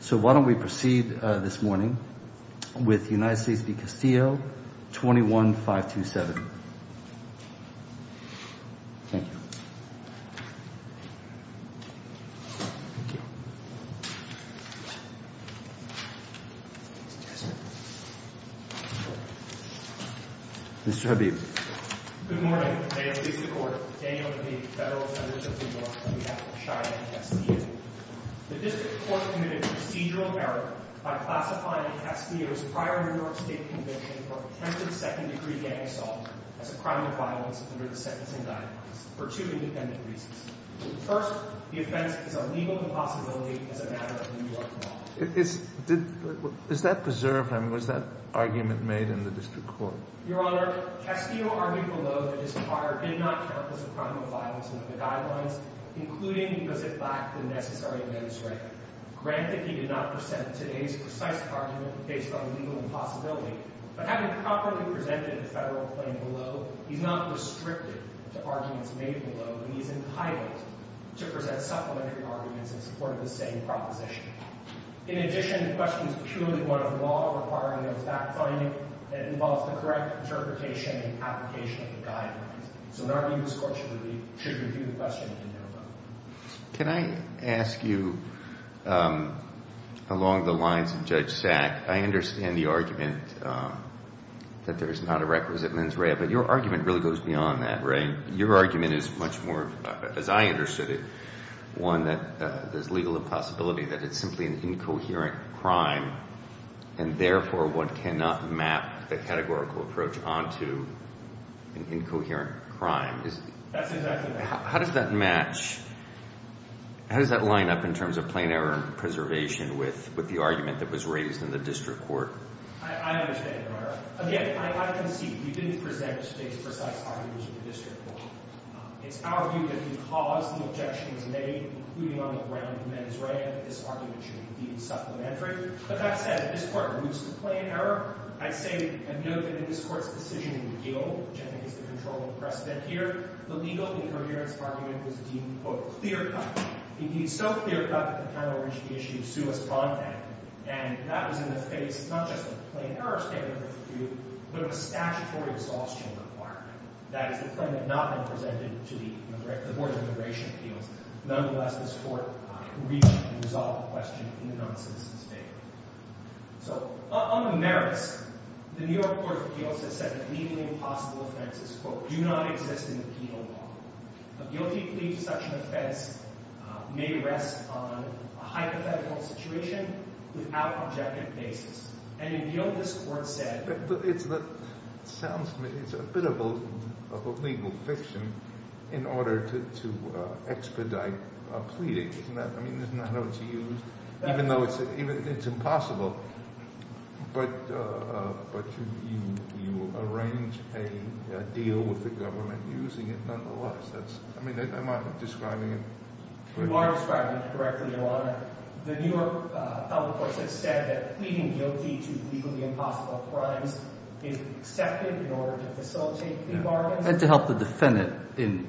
So why don't we proceed this morning with United States v. Castillo, 21-527. Thank you. Mr. Habib. Good morning. I am the District Court. Daniel Habib, Federal Attorney for the United States v. Castillo. The District Court committed procedural error by classifying Castillo's prior New York State conviction for attempted second-degree gang assault as a crime of violence under the sentencing guidelines for two independent reasons. First, the offense is a legal impossibility as a matter of New York law. Is that preserved? I mean, was that argument made in the District Court? Your Honor, Castillo argued below that his prior did not count as a crime of violence under the guidelines, including does it lack the necessary administrative. Granted, he did not present today's precise argument based on legal impossibility. But having properly presented the Federal claim below, he's not restricted to arguments made below, and he's entitled to present supplementary arguments in support of the same proposition. In addition, the question is purely one of law requiring an exact finding that involves the correct interpretation and application of the guidelines. So, in our view, this Court should review the question in due course. Can I ask you, along the lines of Judge Sack, I understand the argument that there is not a requisite mens rea, but your argument really goes beyond that, right? Your argument is much more, as I understood it, one that there's legal impossibility, that it's simply an incoherent crime, and therefore one cannot map the categorical approach onto an incoherent crime. That's exactly right. How does that match? How does that line up in terms of plain error and preservation with the argument that was raised in the District Court? I understand, Your Honor. Again, I concede we didn't present today's precise arguments in the District Court. It's our view that because the objection was made, including on the grounds of mens rea, that this argument should indeed be supplementary. But that said, this Court moves to plain error. I say and note that in this Court's decision in the Gil, which I think is the controlling precedent here, the legal incoherence argument was deemed, quote, clear-cut. It deemed so clear-cut that the panel reached the issue of suous content, and that was in the face not just of a plain error statement, but of a statutory exhaustion requirement. That is, the claim had not been presented to the Board of Immigration Appeals. Nonetheless, this Court reached and resolved the question in the non-citizen's favor. So on the merits, the New York Court of Appeals has said that legally impossible offenses, quote, do not exist in the penal law. A guilty plea to such an offense may rest on a hypothetical situation without objective basis. And in Gil, this Court said— It sounds to me it's a bit of a legal fiction in order to expedite a plea. I mean, isn't that how it's used? Even though it's impossible, but you arrange a deal with the government using it nonetheless. I mean, am I describing it correctly? You are describing it correctly, Your Honor. The New York public courts have said that pleading guilty to legally impossible crimes is accepted in order to facilitate plea bargains. And to help the defendant in—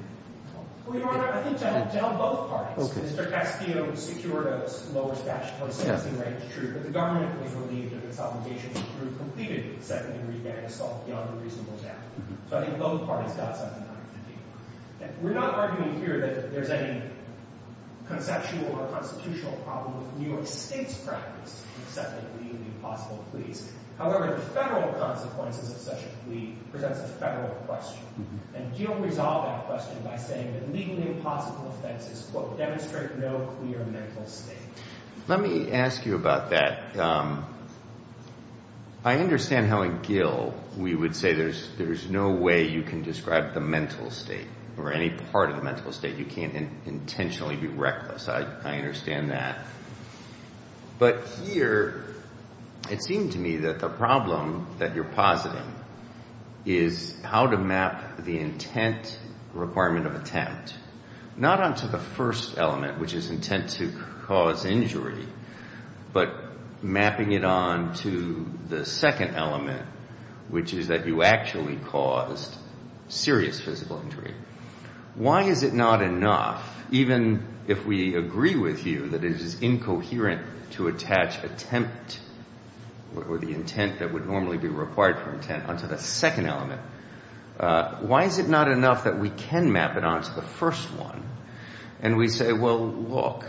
Well, Your Honor, I think to help both parties. Mr. Castillo secured a lower statutory sentencing rate. It's true that the government was relieved of its obligation to prove completed second-degree gang assault beyond a reasonable doubt. So I think both parties got something out of the deal. We're not arguing here that there's any conceptual or constitutional problem with New York State's practice of accepting a legally impossible plea. However, the federal consequences of such a plea presents a federal question. And Gill resolved that question by saying that legally impossible offenses, quote, demonstrate no clear mental state. Let me ask you about that. I understand how in Gill we would say there's no way you can describe the mental state or any part of the mental state. You can't intentionally be reckless. I understand that. But here it seemed to me that the problem that you're positing is how to map the intent requirement of attempt, not onto the first element, which is intent to cause injury, but mapping it onto the second element, which is that you actually caused serious physical injury. Why is it not enough, even if we agree with you that it is incoherent to attach attempt or the intent that would normally be required for intent onto the second element, why is it not enough that we can map it onto the first one and we say, well, look,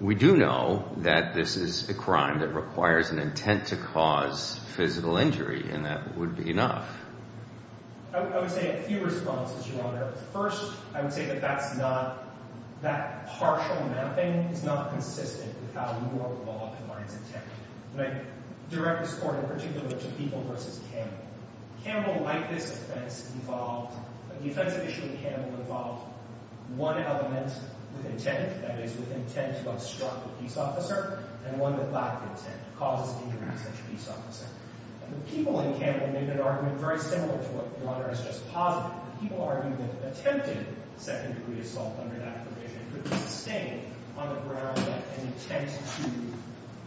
we do know that this is a crime that requires an intent to cause physical injury and that would be enough? I would say a few responses, Your Honor. First, I would say that that's not, that partial mapping is not consistent with how your law combines intent. When I direct this court in particular to People v. Campbell, Campbell, like this offense, involved, the offensive issue of Campbell involved one element with intent, that is with intent to obstruct a peace officer, and one that lacked intent, causes injury to such a peace officer. People in Campbell made an argument very similar to what Your Honor has just posited. People argued that attempted second-degree assault under that provision could be sustained on the grounds that an intent to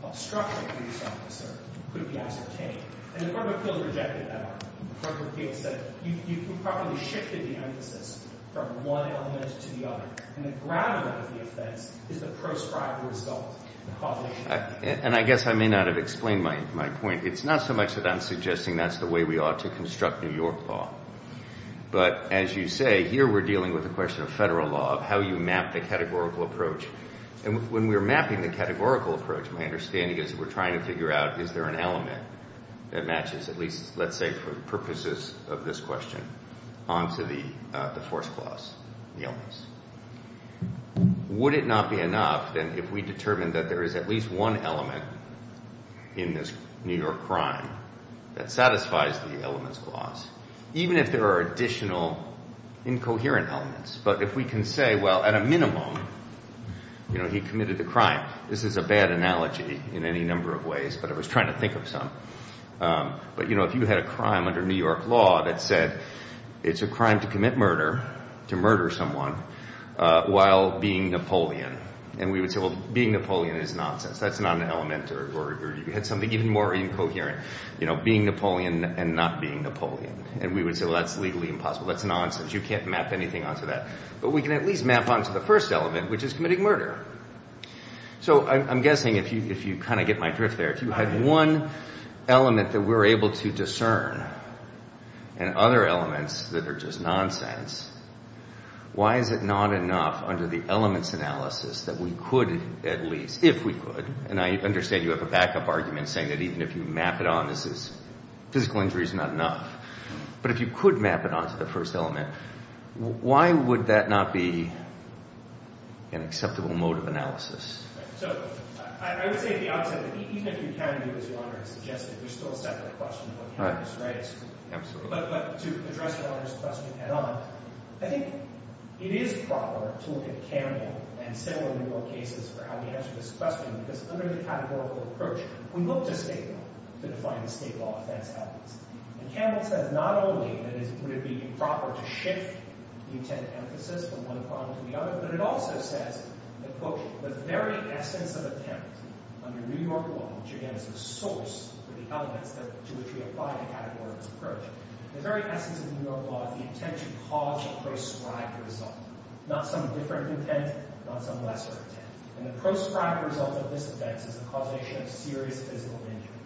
obstruct a peace officer could be ascertained. And the Court of Appeals rejected that argument. The Court of Appeals said you improperly shifted the emphasis from one element to the other, and the gravity of the offense is the proscribed result, the causation. And I guess I may not have explained my point. It's not so much that I'm suggesting that's the way we ought to construct New York law, but as you say, here we're dealing with the question of federal law, of how you map the categorical approach. And when we're mapping the categorical approach, my understanding is that we're trying to figure out, is there an element that matches at least, let's say for the purposes of this question, onto the force clause, the illness. Would it not be enough then if we determined that there is at least one element in this New York crime that satisfies the illness clause, even if there are additional incoherent elements? But if we can say, well, at a minimum, you know, he committed the crime. This is a bad analogy in any number of ways, but I was trying to think of some. But, you know, if you had a crime under New York law that said it's a crime to commit murder, to murder someone while being Napoleon, and we would say, well, being Napoleon is nonsense. That's not an element. Or you had something even more incoherent, you know, being Napoleon and not being Napoleon. And we would say, well, that's legally impossible. That's nonsense. You can't map anything onto that. But we can at least map onto the first element, which is committing murder. So I'm guessing, if you kind of get my drift there, if you had one element that we're able to discern and other elements that are just nonsense, why is it not enough under the elements analysis that we could at least, if we could, and I understand you have a backup argument saying that even if you map it on, this is, physical injury is not enough. But if you could map it onto the first element, why would that not be an acceptable mode of analysis? Right. So I would say at the outset that even if you can do as Your Honor has suggested, there's still a separate question of what happens, right? Absolutely. But to address Your Honor's question head-on, I think it is proper to look at Campbell and settle in more cases for how we answer this question because under the categorical approach, we look to state law to define the state law offense elements. And Campbell says not only would it be improper to shift the intent emphasis from one problem to the other, but it also says that, quote, the very essence of intent under New York law, which again is the source for the elements to which we apply the categorical approach, the very essence of New York law is the intent to cause a proscribed result, not some different intent, not some lesser intent. And the proscribed result of this offense is the causation of serious physical injury.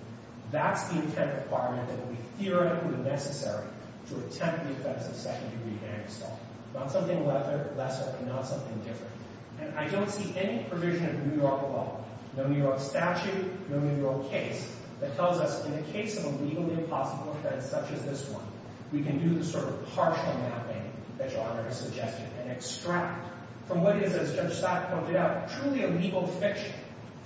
That's the intent requirement that would be theoretically necessary to attempt the offense of second-degree hand assault, not something lesser and not something different. And I don't see any provision of New York law, no New York statute, no New York case, that tells us in the case of a legally impossible offense such as this one, we can do the sort of partial mapping that Your Honor has suggested and extract from what is, as Judge Scott pointed out, truly a legal fiction,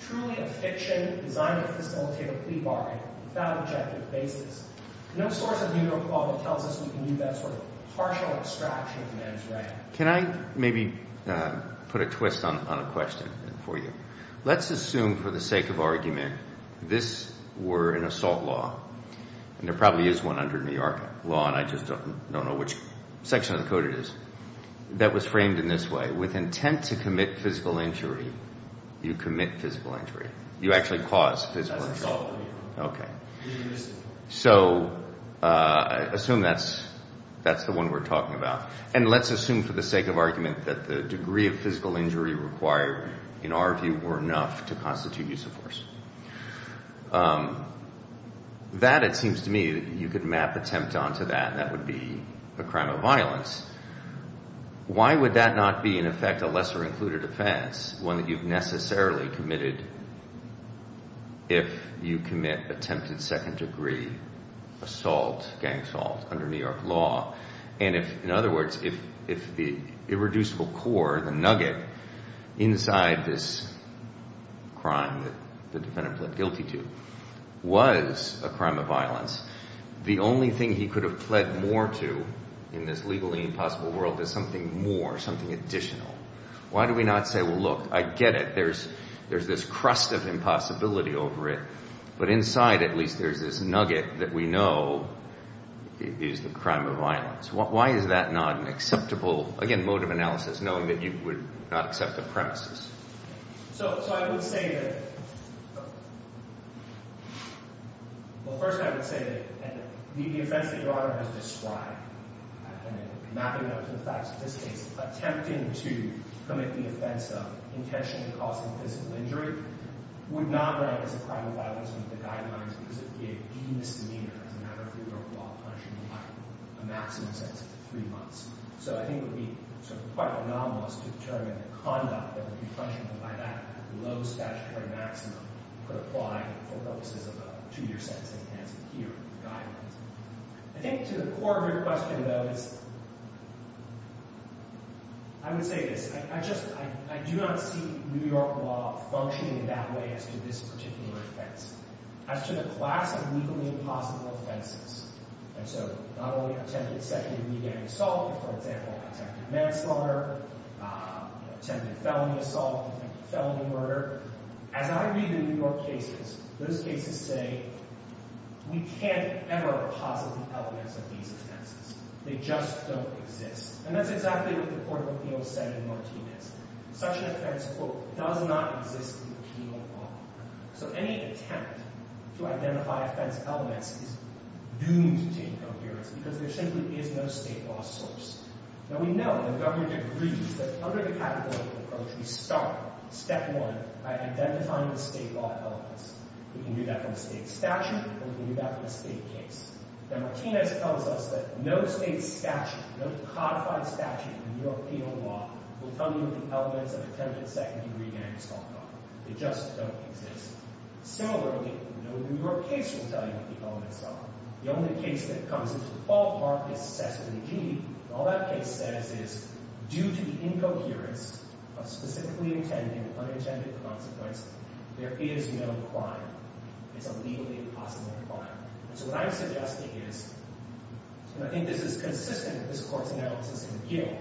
truly a fiction designed to facilitate a plea bargain without objective basis. No source of New York law tells us we can do that sort of partial extraction of the man's rank. Can I maybe put a twist on a question for you? Let's assume for the sake of argument this were an assault law, and there probably is one under New York law and I just don't know which section of the code it is, that was framed in this way. With intent to commit physical injury, you commit physical injury. You actually cause physical injury. That's assault. Okay. So I assume that's the one we're talking about. And let's assume for the sake of argument that the degree of physical injury required, in our view, were enough to constitute use of force. That, it seems to me, you could map attempt onto that, and that would be a crime of violence. Why would that not be, in effect, a lesser included offense, one that you've necessarily committed if you commit attempted second degree assault, gang assault, under New York law? And if, in other words, if the irreducible core, the nugget, inside this crime that the defendant pled guilty to was a crime of violence, the only thing he could have pled more to in this legally impossible world is something more, something additional. Why do we not say, well, look, I get it. There's this crust of impossibility over it. But inside, at least, there's this nugget that we know is the crime of violence. Why is that not an acceptable, again, mode of analysis, knowing that you would not accept the premises? So I would say that, well, first I would say that the offense that your Honor has described, and mapping that to the facts of this case, attempting to commit the offense of intentionally causing physical injury would not rank as a crime of violence under the Guidelines because it would be a de-misdemeanor as a matter of New York law, punishing you by a maximum sentence of three months. So I think it would be sort of quite anomalous to determine the conduct that would be punishable by that low statutory maximum could apply for purposes of a two-year sentencing as here in the Guidelines. I think to the core of your question, though, is, I would say this. I just, I do not see New York law functioning in that way as to this particular offense, as to the class of legally impossible offenses. And so not only attempted second-degree gang assault, for example, attempted manslaughter, attempted felony assault, attempted felony murder. As I read the New York cases, those cases say, we can't ever posit the elements of these offenses. They just don't exist. And that's exactly what the Court of Appeals said in Martinez. Such an offense, quote, does not exist in the penal law. So any attempt to identify offense elements is doomed to incoherence because there simply is no state law source. Now we know, and the government agrees, that under the categorical approach, we start, step one, by identifying the state law elements. We can do that from a state statute, or we can do that from a state case. And Martinez tells us that no state statute, no codified statute in New York penal law, will tell you what the elements of attempted second-degree gang assault are. They just don't exist. Similarly, no New York case will tell you what the elements are. The only case that comes into the ballpark is Sesame Street. Indeed, all that case says is, due to the incoherence of specifically intended, unintended consequence, there is no crime. It's a legally impossible crime. And so what I'm suggesting is, and I think this is consistent with this Court's analysis in Gill,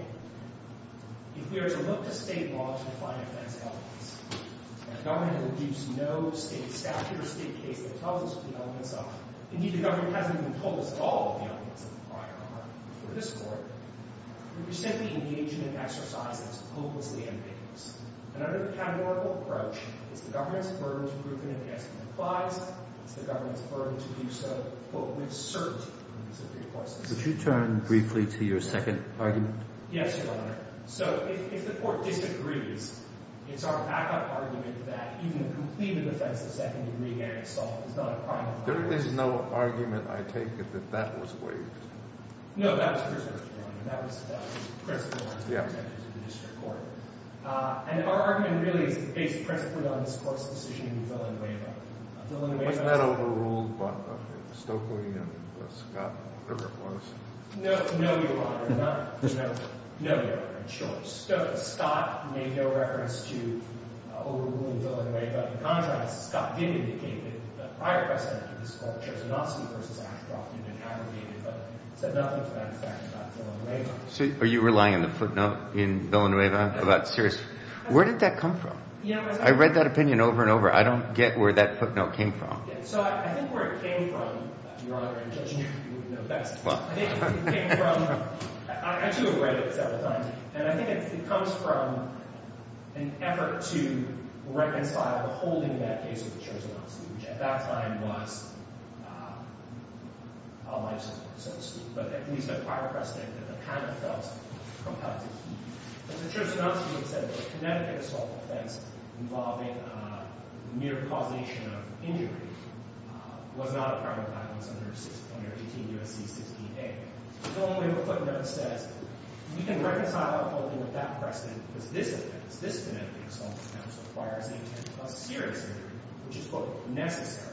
if we were to look to state law to define offense elements, and the government has introduced no state statute or state case that tells us what the elements are, indeed, the government hasn't even told us all of the elements of the prior argument before this Court, we'd be simply engaging in exercises hopelessly ambiguous. And under the categorical approach, it's the government's burden to prove an investment applies. It's the government's burden to do so, quote, with cert in these three courses. Could you turn briefly to your second argument? Yes, Your Honor. So if the Court disagrees, it's our backup argument that even a completed offense of second-degree gang assault is not a crime of the first degree. There is no argument, I take it, that that was waived? No, that was Christopher's point. That was Christopher's point. Yeah. And our argument really is based principally on this Court's decision to fill in the waiver. Was that overruled by Stokely and Scott or whatever it was? No, Your Honor. No, Your Honor, I'm sure. Scott made no reference to overruling fill in the waiver. But in contrast, Scott did indicate that the prior precedent for this Court, which was Nosti v. Ashcroft, had been abrogated, but said nothing to that effect about fill in the waiver. So are you relying on the footnote in fill in the waiver about Sears? Where did that come from? I read that opinion over and over. I don't get where that footnote came from. So I think where it came from, Your Honor, in judging it, you would know best. I think it came from – I actually read it several times. And I think it comes from an effort to reconcile the holding of that case with the Church of Nosti, which at that time was all life's work, so to speak. But at least the prior precedent that the panel felt compelled to keep. But the Church of Nosti had said that the Connecticut assault offense involving mere causation of injury was not a prior offense under 18 U.S.C. 16A. So the waiver footnote says we can reconcile our holding with that precedent because this offense, this Connecticut assault offense, requires the intent to cause serious physical injury, which is, quote, necessary.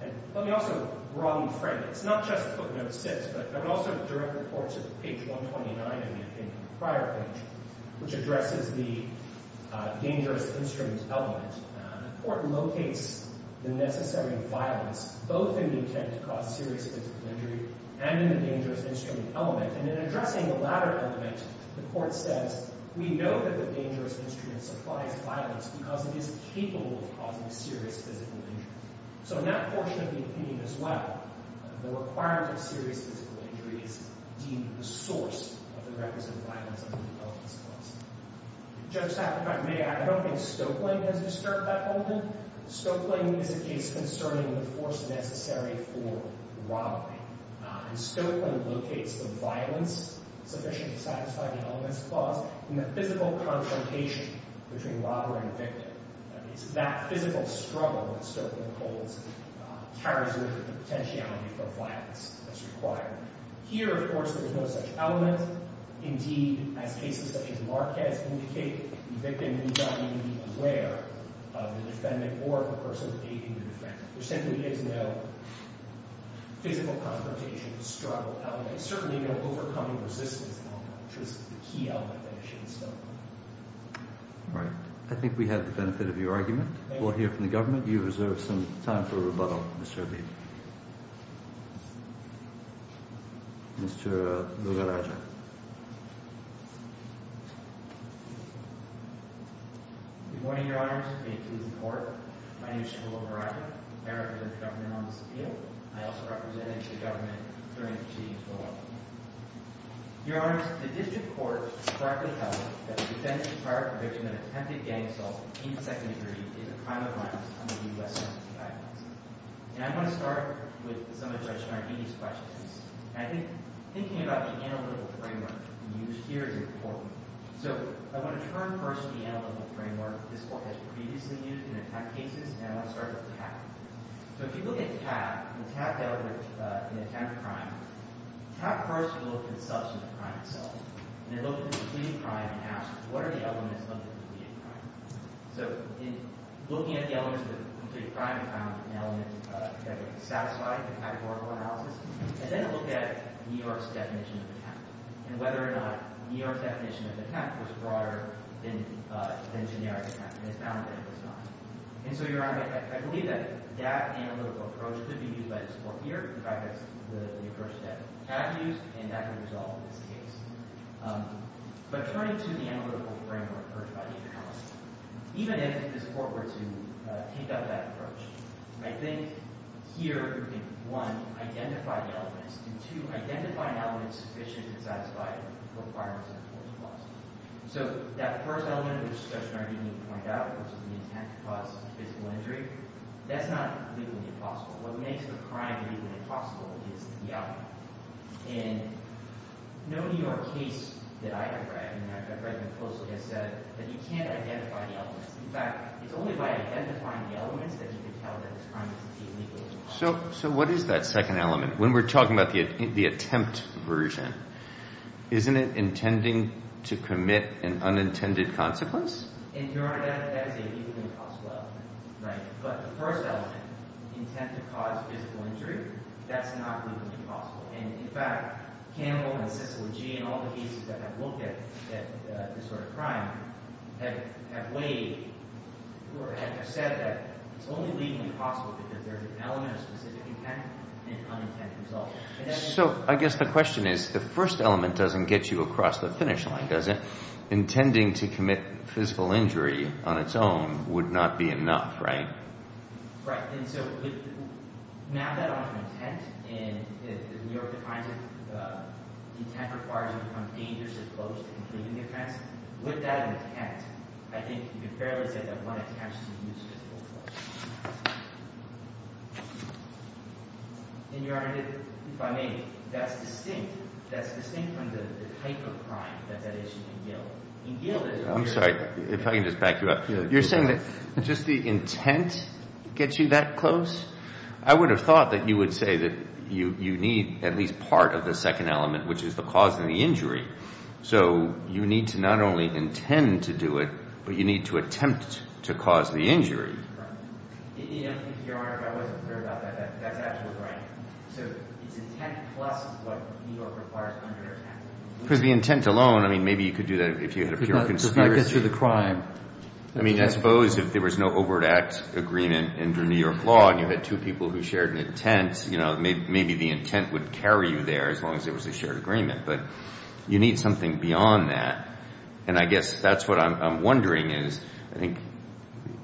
And let me also broadly frame it. It's not just footnote six, but I would also direct the Court to page 129 in the prior page, which addresses the dangerous instrument element. The Court locates the necessary violence both in the intent to cause serious physical injury and in the dangerous instrument element. And in addressing the latter element, the Court says, we know that the dangerous instrument supplies violence because it is capable of causing serious physical injury. So in that portion of the opinion as well, the requirement of serious physical injury is, indeed, the source of the records of violence in the Nosti case. Judge Sackler, if I may, I don't think Stoeckling has disturbed that holding. Stoeckling is a case concerning the force necessary for robbery. And Stoeckling locates the violence sufficient to satisfy the elements clause in the physical confrontation between robber and victim. It's that physical struggle that Stoeckling holds carries with it the potentiality for violence that's required. Here, of course, there is no such element. Indeed, as cases such as Marquez indicate, the victim needs not even be aware of the defendant or of the person taking the defendant. There simply is no physical confrontation, struggle element, certainly no overcoming resistance element, which is the key element that it should instill. All right. I think we have the benefit of your argument. We'll hear from the government. Mr. Lugarajah. Good morning, Your Honors. It's great to be in court. My name is Shibola Lugarajah. I represent the government on this appeal. I also represented the government during the proceedings below. Your Honors, the district court correctly held that the defendant's entire conviction of attempted gang assault in the second degree is a crime of violence under the U.S. Census guidelines. And I'm going to start with some of Judge Marghini's questions. And I think thinking about the analytical framework used here is important. So I want to turn first to the analytical framework this court has previously used in attempt cases, and I want to start with TAP. So if you look at TAP, the TAP element in attempted crime, TAP first looked at the substance of the crime itself. And it looked at the complete crime and asked, what are the elements of the complete crime? So in looking at the elements of the complete crime, it found an element that would satisfy the categorical analysis. And then it looked at New York's definition of the TAP and whether or not New York's definition of the TAP was broader than generic TAP. And it found that it was not. And so, Your Honor, I believe that that analytical approach could be used by this court here. In fact, that's the approach that TAP used, and that could resolve this case. But turning to the analytical framework approached by the attorney, even if this court were to take up that approach, I think here we can, one, identify the elements, and, two, identify an element sufficient to satisfy the requirements of the court's clause. So that first element of the discussion I didn't even point out, which is the intent to cause physical injury, that's not legally impossible. What makes the crime legally impossible is the outcome. And no New York case that I have read, and I've read them closely, has said that you can't identify the elements. In fact, it's only by identifying the elements that you can tell that this crime is legally impossible. So what is that second element? When we're talking about the attempt version, isn't it intending to commit an unintended consequence? And, Your Honor, that is a legally impossible element. But the first element, intent to cause physical injury, that's not legally impossible. And, in fact, Campbell and Sissel and Gee and all the cases that have looked at this sort of crime have weighed or have said that it's only legally possible because there's an element of specific intent and an unintended result. So I guess the question is, the first element doesn't get you across the finish line, does it? Intending to commit physical injury on its own would not be enough, right? Right. And so now that I'm on intent, and New York defines it, intent requires you to become dangerously close to completing the offense. With that intent, I think you can fairly say that one attempts to use physical force. And, Your Honor, if I may, that's distinct. That's distinct from the type of crime that's at issue in Gill. In Gill, there's a very— I'm sorry, if I can just back you up. You're saying that just the intent gets you that close? I would have thought that you would say that you need at least part of the second element, which is the cause of the injury. So you need to not only intend to do it, but you need to attempt to cause the injury. Your Honor, if I wasn't clear about that, that's absolutely right. So it's intent plus what New York requires under intent. Because the intent alone, I mean, maybe you could do that if you had a pure conspiracy. I mean, I suppose if there was no overt act agreement under New York law and you had two people who shared an intent, you know, maybe the intent would carry you there as long as there was a shared agreement. But you need something beyond that. And I guess that's what I'm wondering is, I think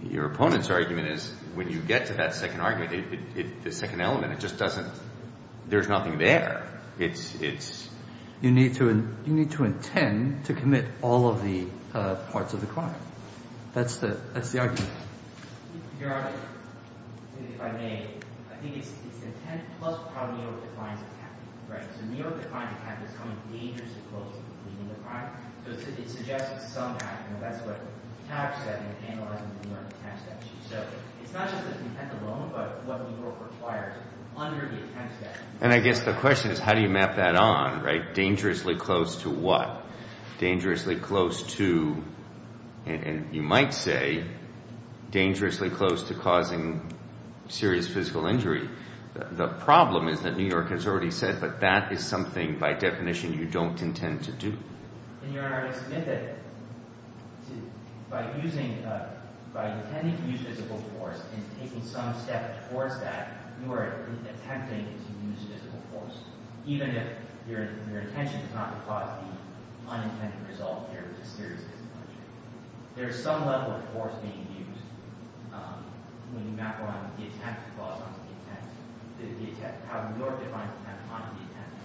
your opponent's argument is when you get to that second argument, the second element, it just doesn't—there's nothing there. You need to intend to commit all of the parts of the crime. That's the argument. Your Honor, if I may, I think it's intent plus how New York defines attack. Right? So New York defines attack as something dangerous and close to committing the crime. So it suggests that somehow, you know, that's what taps that into analyzing the New York intent statute. So it's not just the intent alone, but what New York requires under the intent statute. And I guess the question is how do you map that on, right? Dangerously close to what? Dangerously close to, and you might say, dangerously close to causing serious physical injury. The problem is that New York has already said that that is something by definition you don't intend to do. Your Honor, I submit that by using—by intending to use physical force and taking some step towards that, you are attempting to use physical force, even if your intention is not to cause the unintended result here, which is serious physical injury. There is some level of force being used when you map around the intent clause onto the intent—the intent—how New York defines intent onto the intent clause.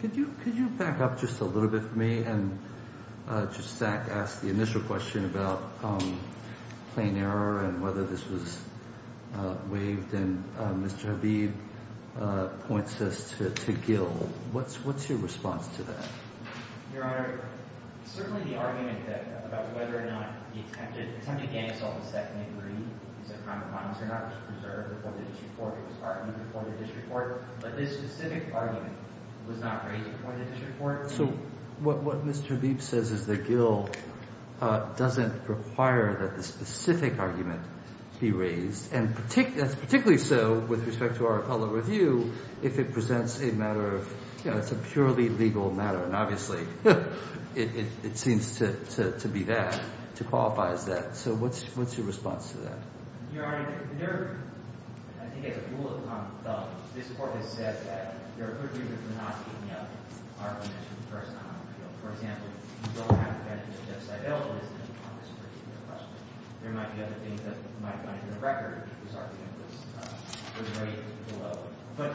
Could you—could you back up just a little bit for me and just ask the initial question about plain error and whether this was waived? And Mr. Havid points us to Gill. What's your response to that? Your Honor, certainly the argument about whether or not the attempted— attempted gang assault was technically a crime of violence or not was preserved before the district court. It was argued before the district court, but this specific argument was not raised before the district court. So what Mr. Leib says is that Gill doesn't require that the specific argument be raised, and that's particularly so with respect to our appellate review if it presents a matter of—you know, it's a purely legal matter, and obviously it seems to be that—to qualify as that. So what's your response to that? Your Honor, there—I think as a rule of thumb, this Court has said that there are good reasons for not giving up arguments from the first time on the field. For example, you don't have the evidence that's just available that's going to come up in this particular question. There might be other things that might have gone into the record if this argument was—was raised below. But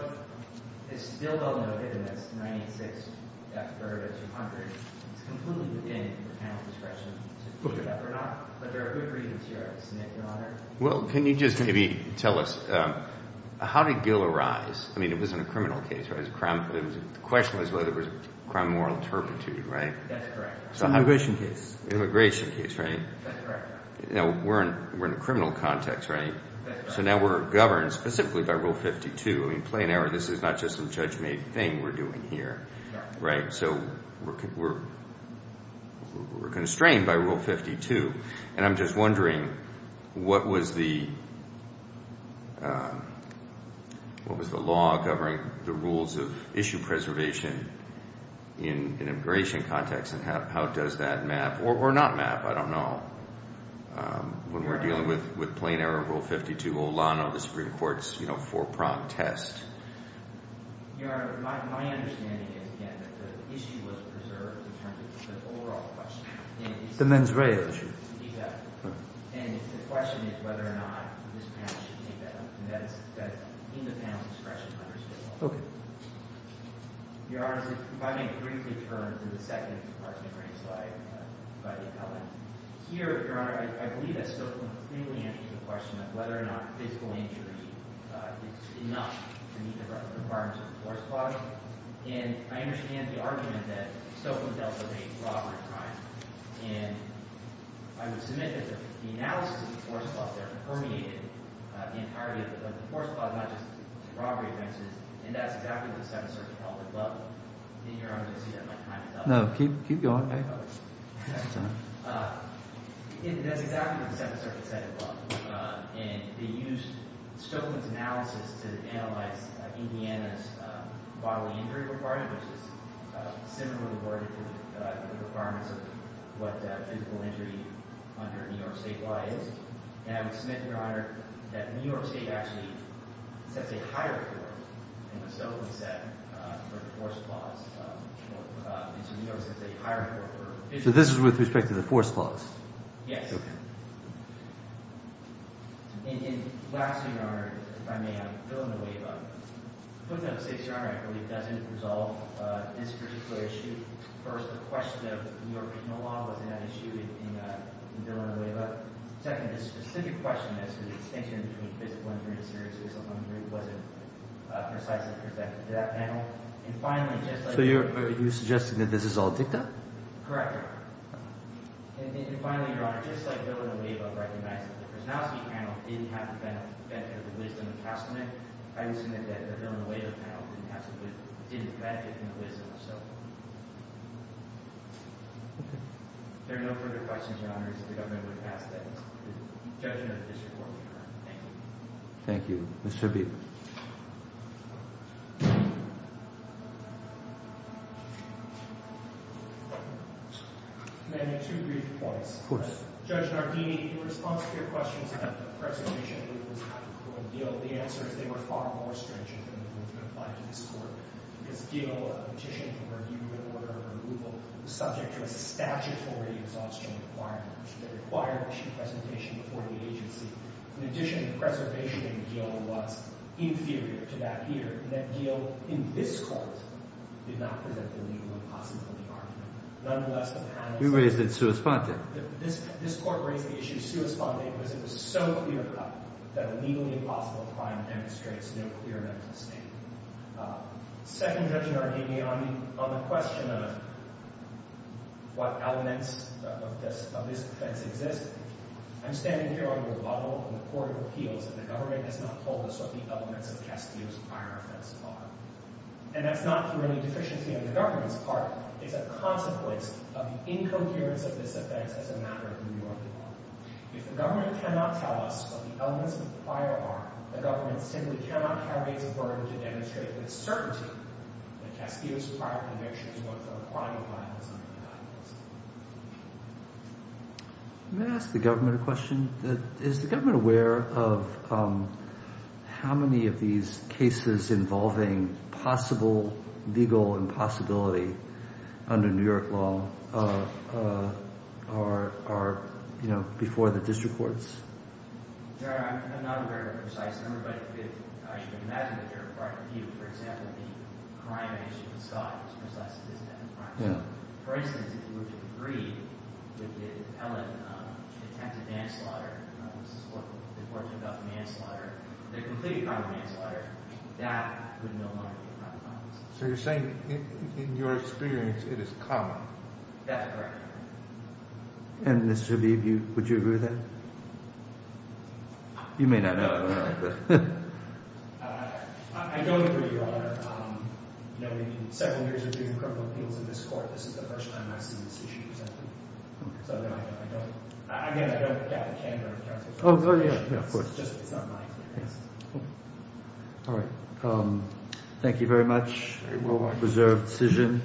it's still well noted in this 986, F-300, 200. It's completely within the panel's discretion to push it up or not. But there are good reasons here, isn't it, Your Honor? Well, can you just maybe tell us how did Gill arise? I mean, it wasn't a criminal case, right? It was a crime—the question was whether it was a crime of moral turpitude, right? That's correct. It's an immigration case. Immigration case, right? That's correct. You know, we're in a criminal context, right? That's correct. So now we're governed specifically by Rule 52. I mean, play an error. This is not just some judge-made thing we're doing here, right? So we're constrained by Rule 52. And I'm just wondering what was the— what was the law governing the rules of issue preservation in an immigration context and how does that map or not map? I don't know. When we're dealing with play an error, Rule 52, Olano, the Supreme Court's, you know, four-prong test. Your Honor, my understanding is, again, that the issue was preserved in terms of the overall question. The mens rea issue. Exactly. And the question is whether or not this panel should take that one. And that's in the panel's expression under state law. Okay. Your Honor, if I may briefly turn to the second part of the green slide by the appellant. Here, Your Honor, I believe that Stokelyn clearly answers the question of whether or not physical injury is enough to meet the requirements of the force clause. And I understand the argument that Stokelyn dealt with a robbery crime. And I would submit that the analysis of the force clause there permeated the entirety of the force clause, not just the robbery offenses. And that's exactly what the seventh circuit held above them. And Your Honor, I don't see that my time is up. No, keep going. That's exactly what the second circuit said above. And they used Stokelyn's analysis to analyze Indiana's bodily injury requirement, which is similarly awarded to the requirements of what physical injury under New York state law is. And I would submit, Your Honor, that New York state actually sets a higher force than what Stokelyn set for the force clause. And so New York sets a higher force for physical injury. So this is with respect to the force clause? Yes. Okay. And lastly, Your Honor, if I may, I'm filling the wave up. Putting that to safety, Your Honor, I believe doesn't resolve this particular issue. First, the question of New York being a law wasn't an issue in filling the wave up. Second, the specific question as to the distinction between physical injury and serious physical injury wasn't precisely presented to that panel. And finally, just like the – So you're suggesting that this is all dicta? Correct. And finally, Your Honor, just like filling the wave up recognizes that the Krasnowski panel didn't have the benefit or the wisdom to pass on it, I would submit that the filling the wave up panel didn't have the – didn't benefit from the wisdom. Okay. If there are no further questions, Your Honor, it is the government that has that. The judge and the district court are adjourned. Thank you. Thank you. Mr. Beal. May I make two brief points? Of course. Judge Nardini, in response to your questions about the preservation of legal status for Beal, the answer is they were far more stringent than the rules you applied to this court because Beal, a petition for review and order of removal, was subject to a statutory exhaustion requirement, which would require a presentation before the agency. In addition, the preservation in Beal was inferior to that here in that Beal in this court did not present the legal impossibility argument. Nonetheless, the panel – We raised it in sua sponte. This court raised the issue sua sponte because it was so clear cut that a legally impossible crime demonstrates no clear mental state. Second, Judge Nardini, on the question of what elements of this offense exist, I'm standing here on your level in the Court of Appeals, and the government has not told us what the elements of Castillo's prior offense are. And that's not through any deficiency on the government's part. It's a consequence of the incoherence of this offense as a matter of New York law. If the government cannot tell us what the elements of the prior are, the government simply cannot have it's burden to demonstrate with certainty that Castillo's prior convictions were for a crime of violence under the documents. Let me ask the government a question. Is the government aware of how many of these cases involving possible legal impossibility under New York law are, you know, before the district courts? Your Honor, I'm not aware of a precise number, but I should imagine that there are quite a few. For example, the crime of the issue with Scott was precisely this type of crime. For instance, if you were to agree with the appellate detective manslaughter, this is what the court did about the manslaughter, the completely common manslaughter, that would no longer be a crime of violence. So you're saying, in your experience, it is common? That's correct. And, Mr. Shabib, would you agree with that? You may not know. I don't agree, Your Honor. You know, in several years of doing criminal appeals in this court, this is the first time I've seen this issue presented. So, no, I don't. Again, I don't gather candor with counsel. Oh, yeah, yeah, of course. It's just, it's not my experience. All right. Thank you very much. Very well. Reserved decision.